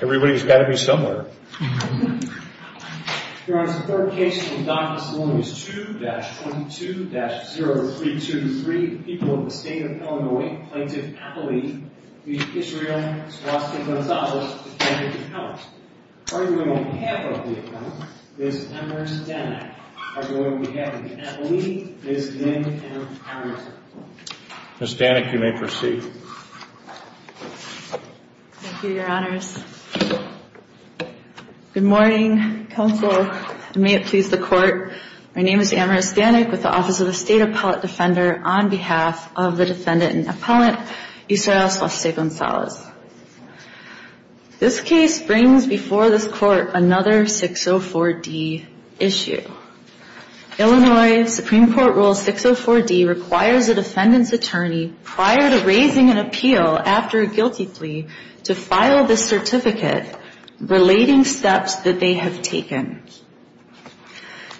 Everybody's got to be somewhere. Miss Danik, you may proceed. Thank you, your honors. Good morning, counsel, and may it please the court. My name is Amaris Danik with the Office of the State Appellate Defender on behalf of the defendant and appellant, Israel Soliste Gonzalez. This case brings before this court another 604 D issue. Illinois Supreme Court Rule 604 D requires a defendant's attorney, prior to raising an appeal after a guilty plea, to file this certificate relating steps that they have taken.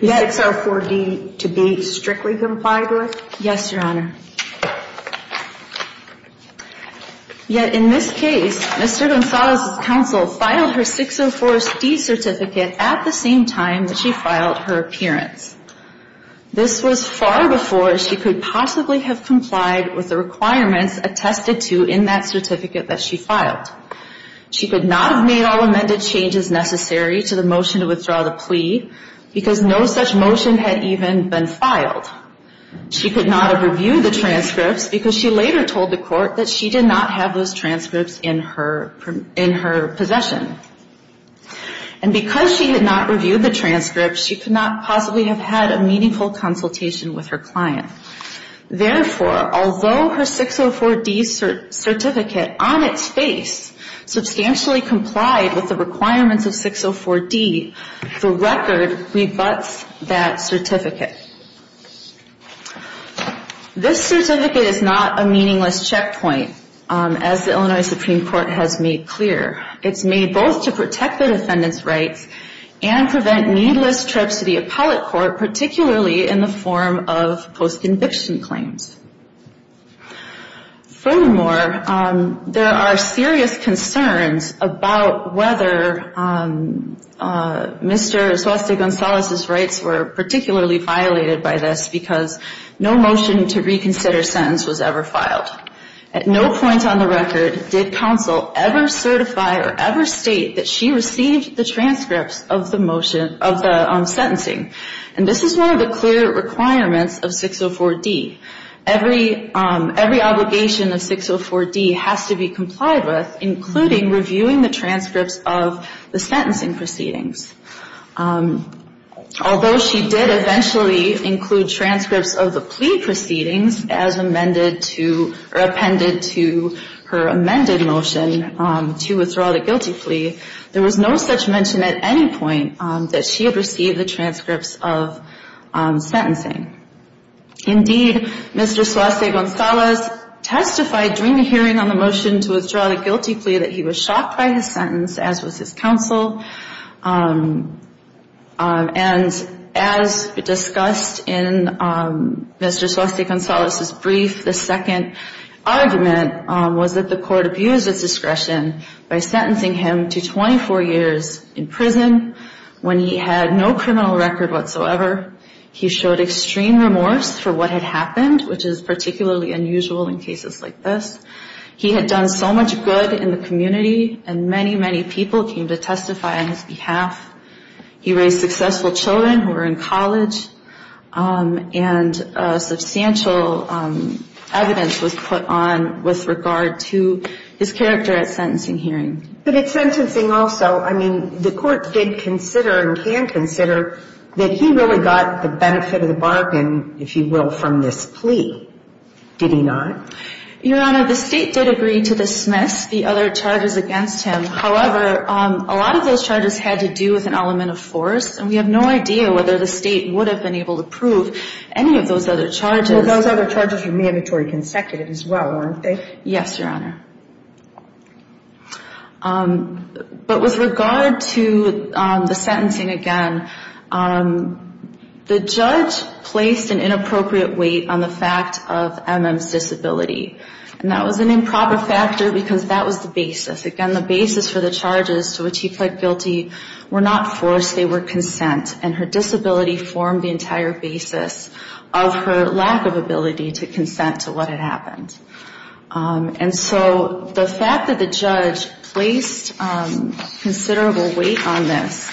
Is 604 D to be strictly complied with? Yes, your honor. Yet, in this case, Mr. Gonzalez's counsel filed her 604 D certificate at the same time that she filed her appearance. This was far before she could possibly have complied with the requirements attested to in that certificate that she filed. She could not have made all amended changes necessary to the motion to withdraw the plea because no such motion had even been filed. She could not have reviewed the transcripts because she later told the court that she did not have those transcripts in her possession. And because she did not review the transcripts, she could not possibly have had a meaningful consultation with her client. Therefore, although her 604 D certificate, on its face, substantially complied with the requirements of 604 D, the record rebuts that certificate. This certificate is not a meaningless checkpoint, as the Illinois Supreme Court has made clear. It's made both to protect the defendant's rights and prevent needless trips to the appellate court, particularly in the form of post-conviction claims. Furthermore, there are serious concerns about whether Mr. Gonzalez's rights were particularly violated by this because no motion to reconsider sentence was ever filed. At no point on the record did counsel ever certify or ever state that she received the transcripts of the motion, of the sentencing. And this is one of the clear requirements of 604 D. Every obligation of 604 D has to be complied with, including reviewing the transcripts of the sentencing proceedings. Although she did eventually include transcripts of the plea proceedings as amended to or appended to her amended motion to withdraw the guilty plea, there was no such mention at any point that she had received the transcripts of sentencing. Indeed, Mr. Suase Gonzalez testified during the hearing on the motion to withdraw the guilty plea that he was shocked by his sentence, as was his counsel. And as discussed in Mr. Suase Gonzalez's brief, the second argument was that the court abused its discretion by sentencing him to 24 years in prison when he had no criminal record whatsoever. He showed extreme remorse for what had happened, which is particularly unusual in cases like this. He had done so much good in the community, and many, many people came to testify on his behalf. He raised successful children who were in college, and substantial evidence was put on with regard to his character at sentencing hearing. But at sentencing also, I mean, the court did consider and can consider that he really got the benefit of the bargain, if you will, from this plea. Did he not? Your Honor, the state did agree to dismiss the other charges against him. However, a lot of those charges had to do with an element of force, and we have no idea whether the state would have been able to prove any of those other charges. Well, those other charges were mandatory consecutive as well, weren't they? Yes, Your Honor. But with regard to the sentencing, again, the judge placed an inappropriate weight on the fact of MM's disability. And that was an improper factor because that was the basis. Again, the basis for the charges to which he pled guilty were not force, they were consent. And her disability formed the entire basis of her lack of ability to consent to what had happened. And so the fact that the judge placed considerable weight on this,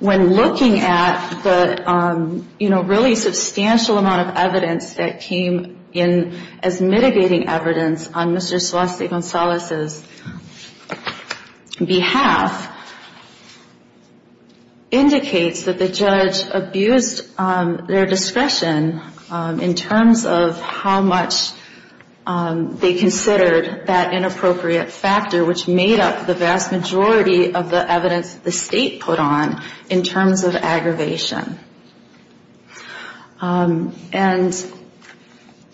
when looking at the, you know, really substantial amount of evidence that came in as mitigating evidence on Mr. Celeste Gonzalez's behalf, indicates that the judge abused their discretion in terms of how much they considered that inappropriate factor, which made up the vast majority of the evidence the state put on in terms of aggravation. And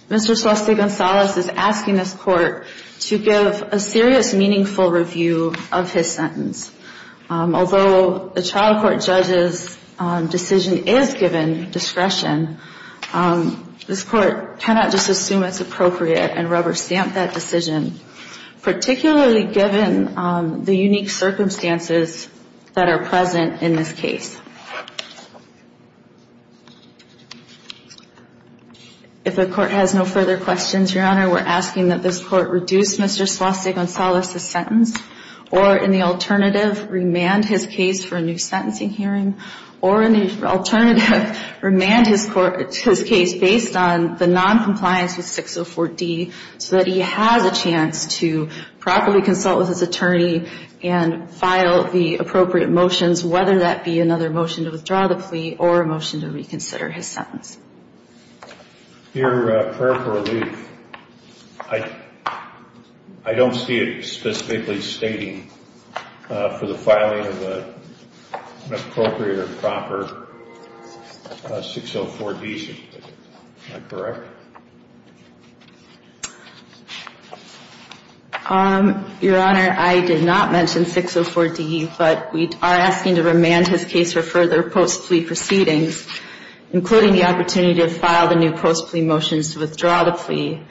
Mr. Celeste Gonzalez is asking this court to give a serious, meaningful review of his sentence. Although the trial court judge's decision is given discretion, this court cannot just assume it's appropriate and rubber stamp that decision, particularly given the unique circumstances that are present in this case. If the court has no further questions, Your Honor, we're asking that this court reduce Mr. Celeste Gonzalez's sentence, or in the alternative, remand his case for a new sentencing hearing, or in the alternative, remand his case based on the noncompliance with 604D, so that he has a chance to properly consult with his attorney and file the appropriate motions, whether that be another motion to withdraw the plea or a motion to reconsider his sentence. Your prayer for relief, I don't see it specifically stating for the filing of an appropriate or proper 604D. Is that correct? Your Honor, I did not mention 604D, but we are asking to remand his case for further post-plea proceedings, including the opportunity to file the new post-plea motions to withdraw the plea,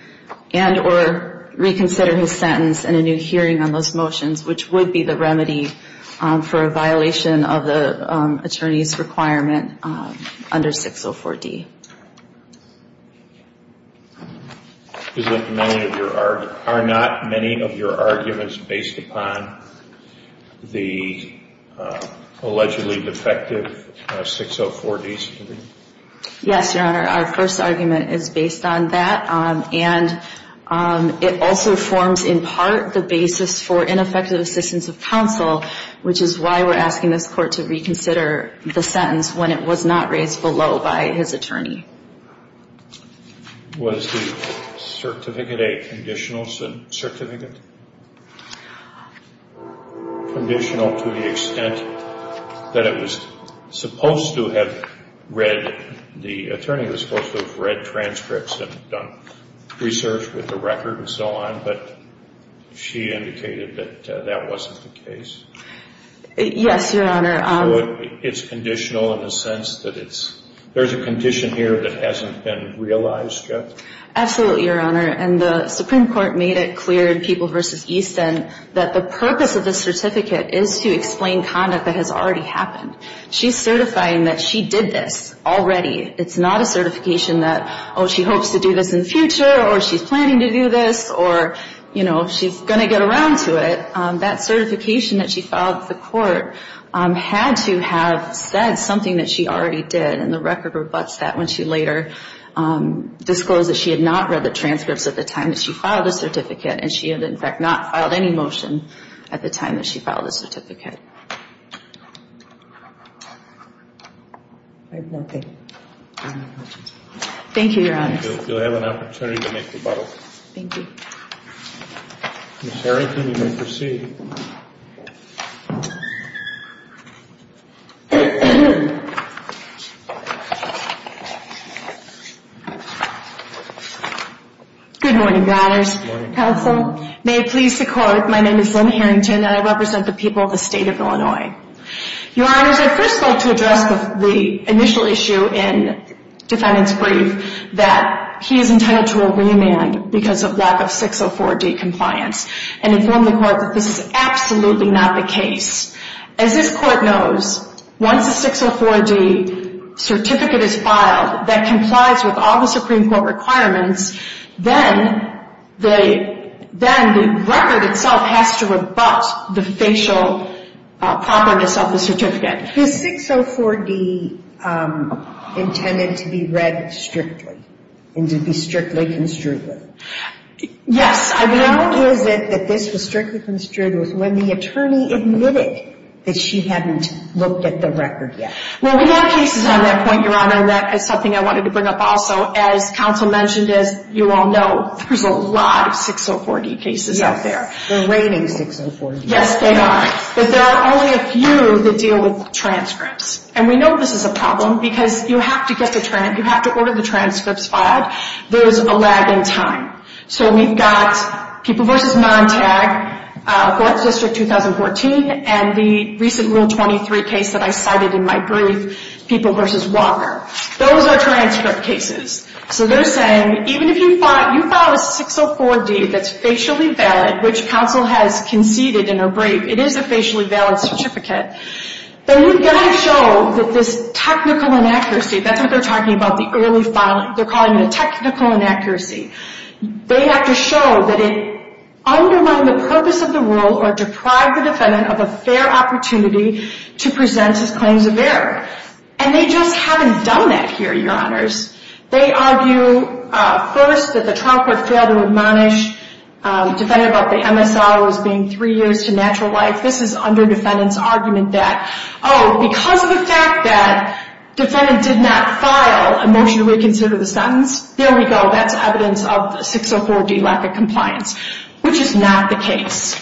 and or reconsider his sentence and a new hearing on those motions, which would be the remedy for a violation of the attorney's requirement under 604D. Are not many of your arguments based upon the allegedly defective 604D? Yes, Your Honor. Our first argument is based on that, and it also forms in part the basis for ineffective assistance of counsel, which is why we're asking this court to reconsider the sentence when it was not raised below by his attorney. Was the Certificate 8 conditional to the extent that the attorney was supposed to have read transcripts and done research with the record and so on, but she indicated that that wasn't the case? Yes, Your Honor. So it's conditional in the sense that it's, there's a condition here that hasn't been realized yet? Absolutely, Your Honor, and the Supreme Court made it clear in People v. Easton that the purpose of the certificate is to explain conduct that has already happened. She's certifying that she did this already. It's not a certification that, oh, she hopes to do this in the future, or she's planning to do this, or, you know, she's going to get around to it. But that certification that she filed with the court had to have said something that she already did, and the record rebutts that when she later disclosed that she had not read the transcripts at the time that she filed the certificate, and she had, in fact, not filed any motion at the time that she filed the certificate. I have no further questions. Thank you, Your Honor. You'll have an opportunity to make rebuttals. Thank you. Ms. Harrington, you may proceed. Good morning, Your Honors. Good morning, Counsel. May it please the Court, my name is Lynn Harrington, and I represent the people of the State of Illinois. Your Honors, I'd first like to address the initial issue in defendant's brief, that he is entitled to a remand because of lack of 604D compliance, and inform the Court that this is absolutely not the case. As this Court knows, once a 604D certificate is filed that complies with all the Supreme Court requirements, then the record itself has to rebut the facial properness of the certificate. Is 604D intended to be read strictly, and to be strictly construed? Yes. How is it that this was strictly construed was when the attorney admitted that she hadn't looked at the record yet? Well, we have cases on that point, Your Honor, and that is something I wanted to bring up also. As Counsel mentioned, as you all know, there's a lot of 604D cases out there. They're reigning 604D. Yes, they are. But there are only a few that deal with transcripts. And we know this is a problem because you have to order the transcripts filed. There's a lag in time. So we've got People v. Montag, Court District 2014, and the recent Rule 23 case that I cited in my brief, People v. Walker. Those are transcript cases. So they're saying, even if you file a 604D that's facially valid, which Counsel has conceded in her brief, it's a facially valid certificate, then you've got to show that this technical inaccuracy, that's what they're talking about, the early filing. They're calling it a technical inaccuracy. They have to show that it undermined the purpose of the rule or deprived the defendant of a fair opportunity to present his claims of error. And they just haven't done that here, Your Honors. They argue, first, that the trial court failed to admonish the defendant about the MSR as being three years to natural life. This is under defendant's argument that, oh, because of the fact that the defendant did not file a motion to reconsider the sentence, there we go, that's evidence of the 604D lack of compliance, which is not the case.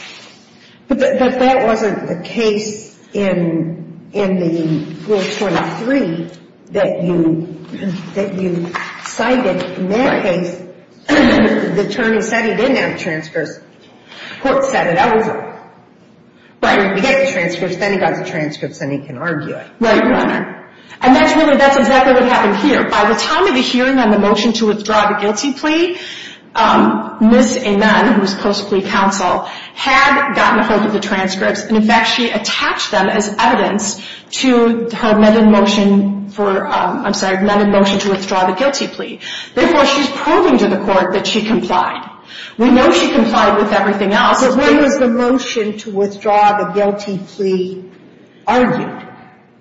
But that wasn't the case in the Rule 23 that you cited. In that case, the attorney said he didn't have transcripts. The court said it. Right. We get the transcripts, then he got the transcripts and he can argue it. Right, Your Honor. And that's really, that's exactly what happened here. By the time of the hearing on the motion to withdraw the guilty plea, Ms. Amen, who was post plea counsel, had gotten a hold of the transcripts, and, in fact, she attached them as evidence to her amended motion for, I'm sorry, amended motion to withdraw the guilty plea. Therefore, she's proving to the court that she complied. We know she complied with everything else. Her amended motion to withdraw the guilty plea argued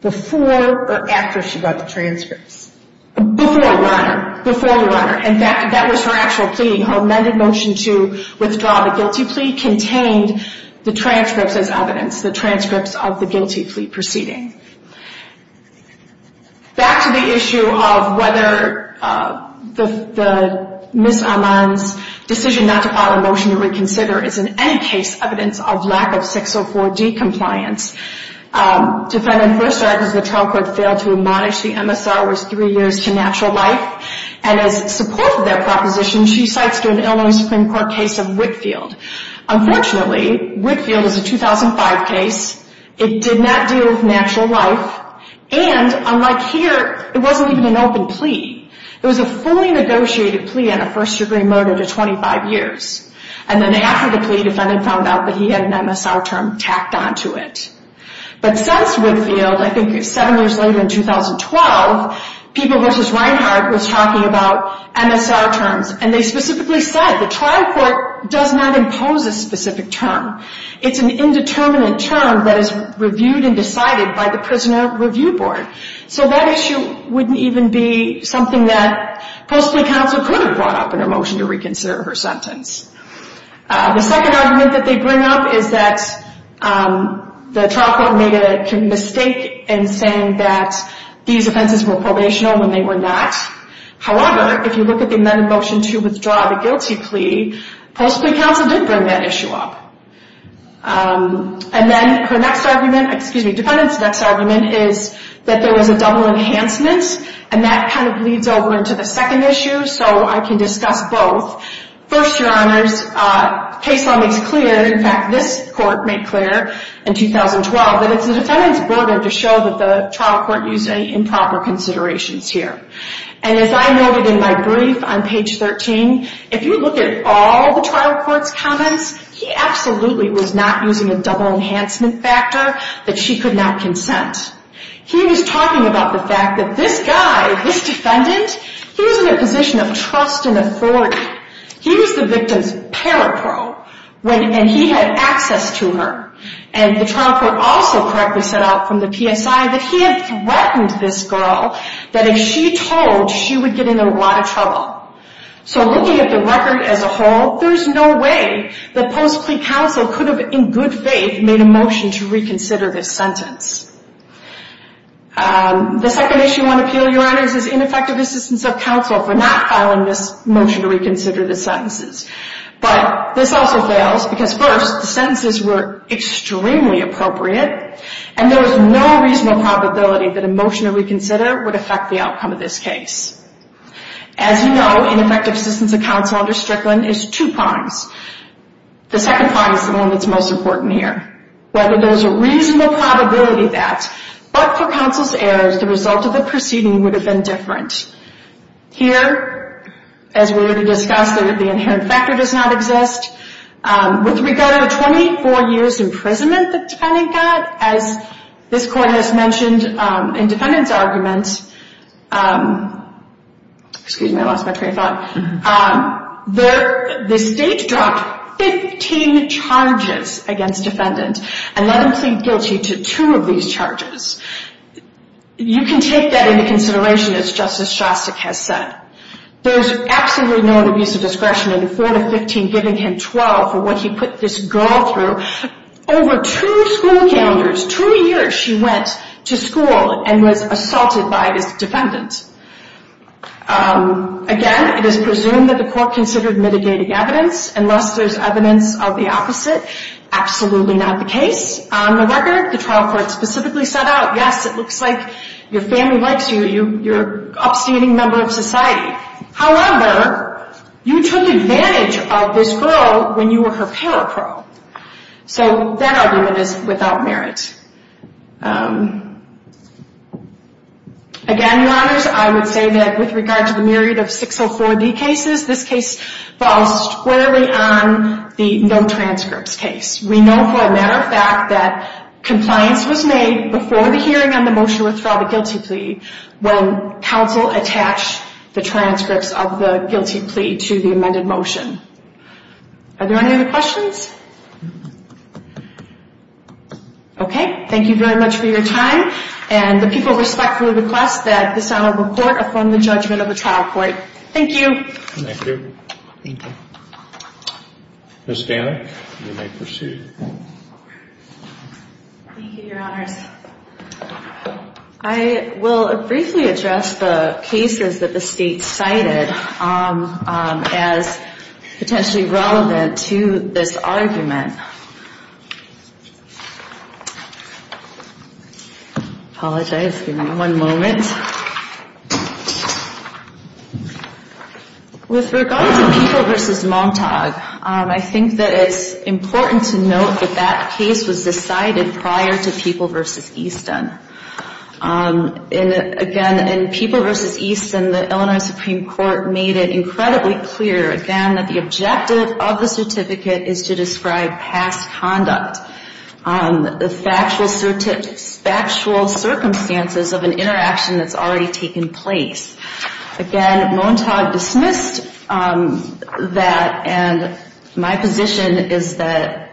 before or after she got the transcripts? Before, Your Honor. Before, Your Honor, and that was her actual plea. Her amended motion to withdraw the guilty plea contained the transcripts as evidence, the transcripts of the guilty plea proceeding. Back to the issue of whether Ms. Amen's decision not to file a motion to reconsider is in any case evidence of lack of 604D compliance. Defendant first argued the trial court failed to admonish the MSR was three years to natural life, and as support of that proposition, she cites to an Illinois Supreme Court case of Whitfield. Unfortunately, Whitfield is a 2005 case. It did not deal with natural life, and, unlike here, it wasn't even an open plea. It was a fully negotiated plea and a first degree murder to 25 years. And then after the plea, defendant found out that he had an MSR term tacked onto it. But since Whitfield, I think seven years later in 2012, People v. Reinhart was talking about MSR terms, and they specifically said the trial court does not impose a specific term. It's an indeterminate term that is reviewed and decided by the prisoner review board. So that issue wouldn't even be something that The second argument that they bring up is that the trial court made a mistake in saying that these offenses were probational when they were not. However, if you look at the amended motion to withdraw the guilty plea, post plea counsel did bring that issue up. And then her next argument, excuse me, defendant's next argument is that there was a double enhancement, and that kind of leads over into the second issue. So I can discuss both. First, your honors, case law makes clear, in fact, this court made clear in 2012, that it's the defendant's burden to show that the trial court used improper considerations here. And as I noted in my brief on page 13, if you look at all the trial court's comments, he absolutely was not using a double enhancement factor that she could not consent. He was talking about the fact that this guy, this defendant, he was in a position of trust and authority. He was the victim's parapro, and he had access to her. And the trial court also correctly set out from the PSI that he had threatened this girl that if she told, she would get in a lot of trouble. So looking at the record as a whole, there's no way that post plea counsel could have, in good faith, made a motion to reconsider this sentence. The second issue I want to appeal, your honors, is ineffective assistance of counsel for not filing this motion to reconsider the sentences. But this also fails because first, the sentences were extremely appropriate, and there was no reasonable probability that a motion to reconsider would affect the outcome of this case. As you know, ineffective assistance of counsel under Strickland is two prongs. The second prong is the one that's most important here. Whether there's a reasonable probability of that, but for counsel's errors, the result of the proceeding would have been different. Here, as we already discussed, the inherent factor does not exist. With regard to the 24 years imprisonment the defendant got, as this court has mentioned in defendant's arguments, excuse me, I lost my train of thought, the state dropped 15 charges against defendant and let him plead guilty to two of these charges. You can take that into consideration, as Justice Shostak has said. There's absolutely no abuse of discretion in the 4 to 15, giving him 12 for what he put this girl through. Over two school calendars, two years, she went to school and was assaulted by this defendant. Again, it is presumed that the court considered mitigating evidence, unless there's evidence of the opposite. Absolutely not the case. On the record, the trial court specifically set out, yes, it looks like your family likes you, you're an upstanding member of society. However, you took advantage of this girl when you were her parapro. So that argument is without merit. Again, Your Honors, I would say that with regard to the myriad of 604B cases, this case falls squarely on the no transcripts case. We know for a matter of fact that compliance was made before the hearing on the motion to withdraw the guilty plea, when counsel attached the transcripts of the guilty plea to the amended motion. Are there any other questions? Okay. Thank you very much for your time. And the people respectfully request that this Honorable Court affirm the judgment of the trial court. Thank you. Thank you. Ms. Danek, you may proceed. Thank you, Your Honors. I will briefly address the cases that the state cited as potentially relevant to this argument. Apologize. Give me one moment. With regard to People v. Montauk, I think that it's important to note that that case was decided prior to People v. Easton. Again, in People v. Easton, the Illinois Supreme Court made it incredibly clear, again, that the objective of the certificate is to describe past conduct, the factual circumstances of an interaction that's already taken place. Again, Montauk dismissed that, and my position is that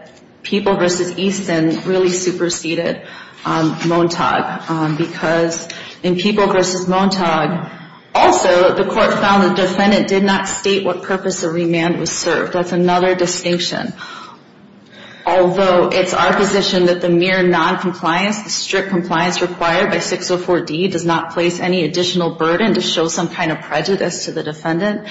People v. Easton really superseded Montauk, because in People v. Montauk, also the court found the defendant did not state what purpose the remand was served. That's another distinction. Although it's our position that the mere noncompliance, the strict compliance required by 604D, does not place any additional burden to show some kind of prejudice to the defendant,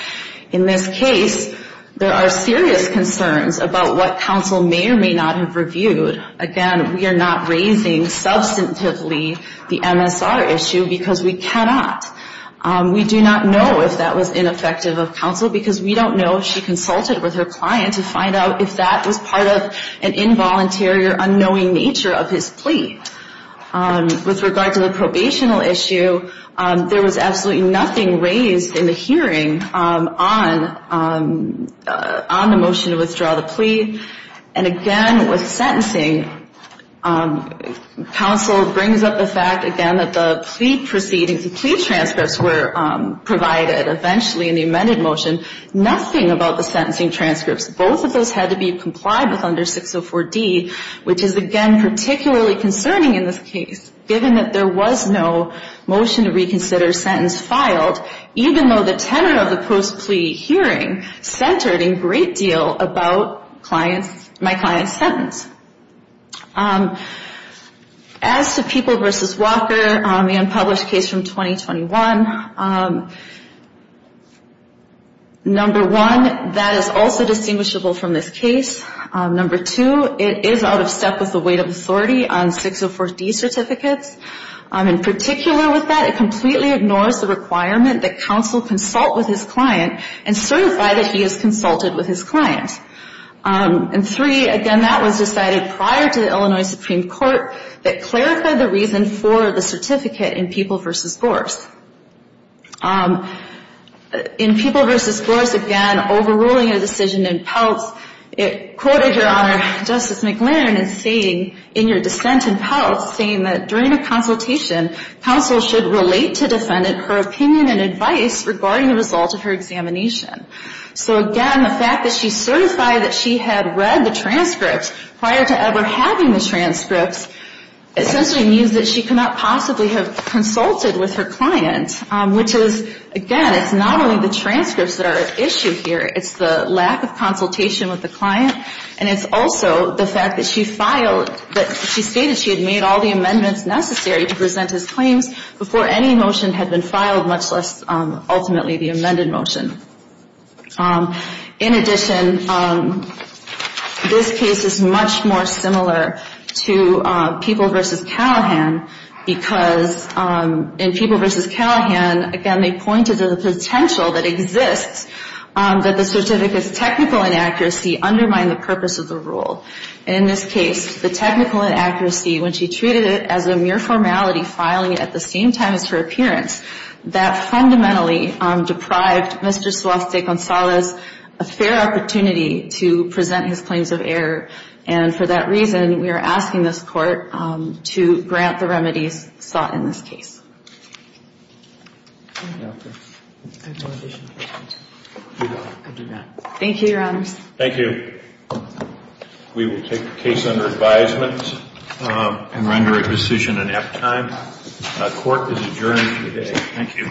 in this case, there are serious concerns about what counsel may or may not have reviewed. Again, we are not raising substantively the MSR issue, because we cannot. We do not know if that was ineffective of counsel, because we don't know if she consulted with her client to find out if that was part of an involuntary or unknowing nature of his plea. With regard to the probational issue, there was absolutely nothing raised in the hearing on the motion to withdraw the plea. And again, with sentencing, counsel brings up the fact, again, that the plea proceedings, the plea transcripts were provided eventually in the amended motion, nothing about the sentencing transcripts. Both of those had to be complied with under 604D, which is, again, particularly concerning in this case, given that there was no motion to reconsider sentence filed, even though the tenor of the post-plea hearing centered a great deal about my client's sentence. As to People v. Walker, the unpublished case from 2021, number one, that is also distinguishable from this case. Number two, it is out of step with the weight of authority on 604D certificates. In particular with that, it completely ignores the requirement that counsel consult with his client and certify that he has consulted with his client. And three, again, that was decided prior to the Illinois Supreme Court that clerical the reason for the certificate in People v. Gorse. In People v. Gorse, again, overruling a decision in Peltz, it quoted, Your Honor, Justice McLaren in saying, in your dissent in Peltz, saying that during a consultation, counsel should relate to defendant her opinion and advice regarding the result of her examination. So, again, the fact that she certified that she had read the transcripts prior to ever having the transcripts, essentially means that she could not possibly have consulted with her client, which is, again, it's not only the transcripts that are at issue here, it's the lack of consultation with the client, and it's also the fact that she filed, that she stated she had made all the amendments necessary to present his claims before any motion had been filed, much less ultimately the amended motion. In addition, this case is much more similar to People v. Callahan because in People v. Callahan, again, they pointed to the potential that exists that the certificate's technical inaccuracy undermined the purpose of the rule. In this case, the technical inaccuracy, when she treated it as a mere formality, filing it at the same time as her appearance, that fundamentally deprived Mr. Suarez de Gonzalez a fair opportunity to present his claims of error, and for that reason, we are asking this Court to grant the remedies sought in this case. Thank you, Your Honors. Thank you. We will take the case under advisement and render a decision in half time. Court is adjourned for the day. Thank you.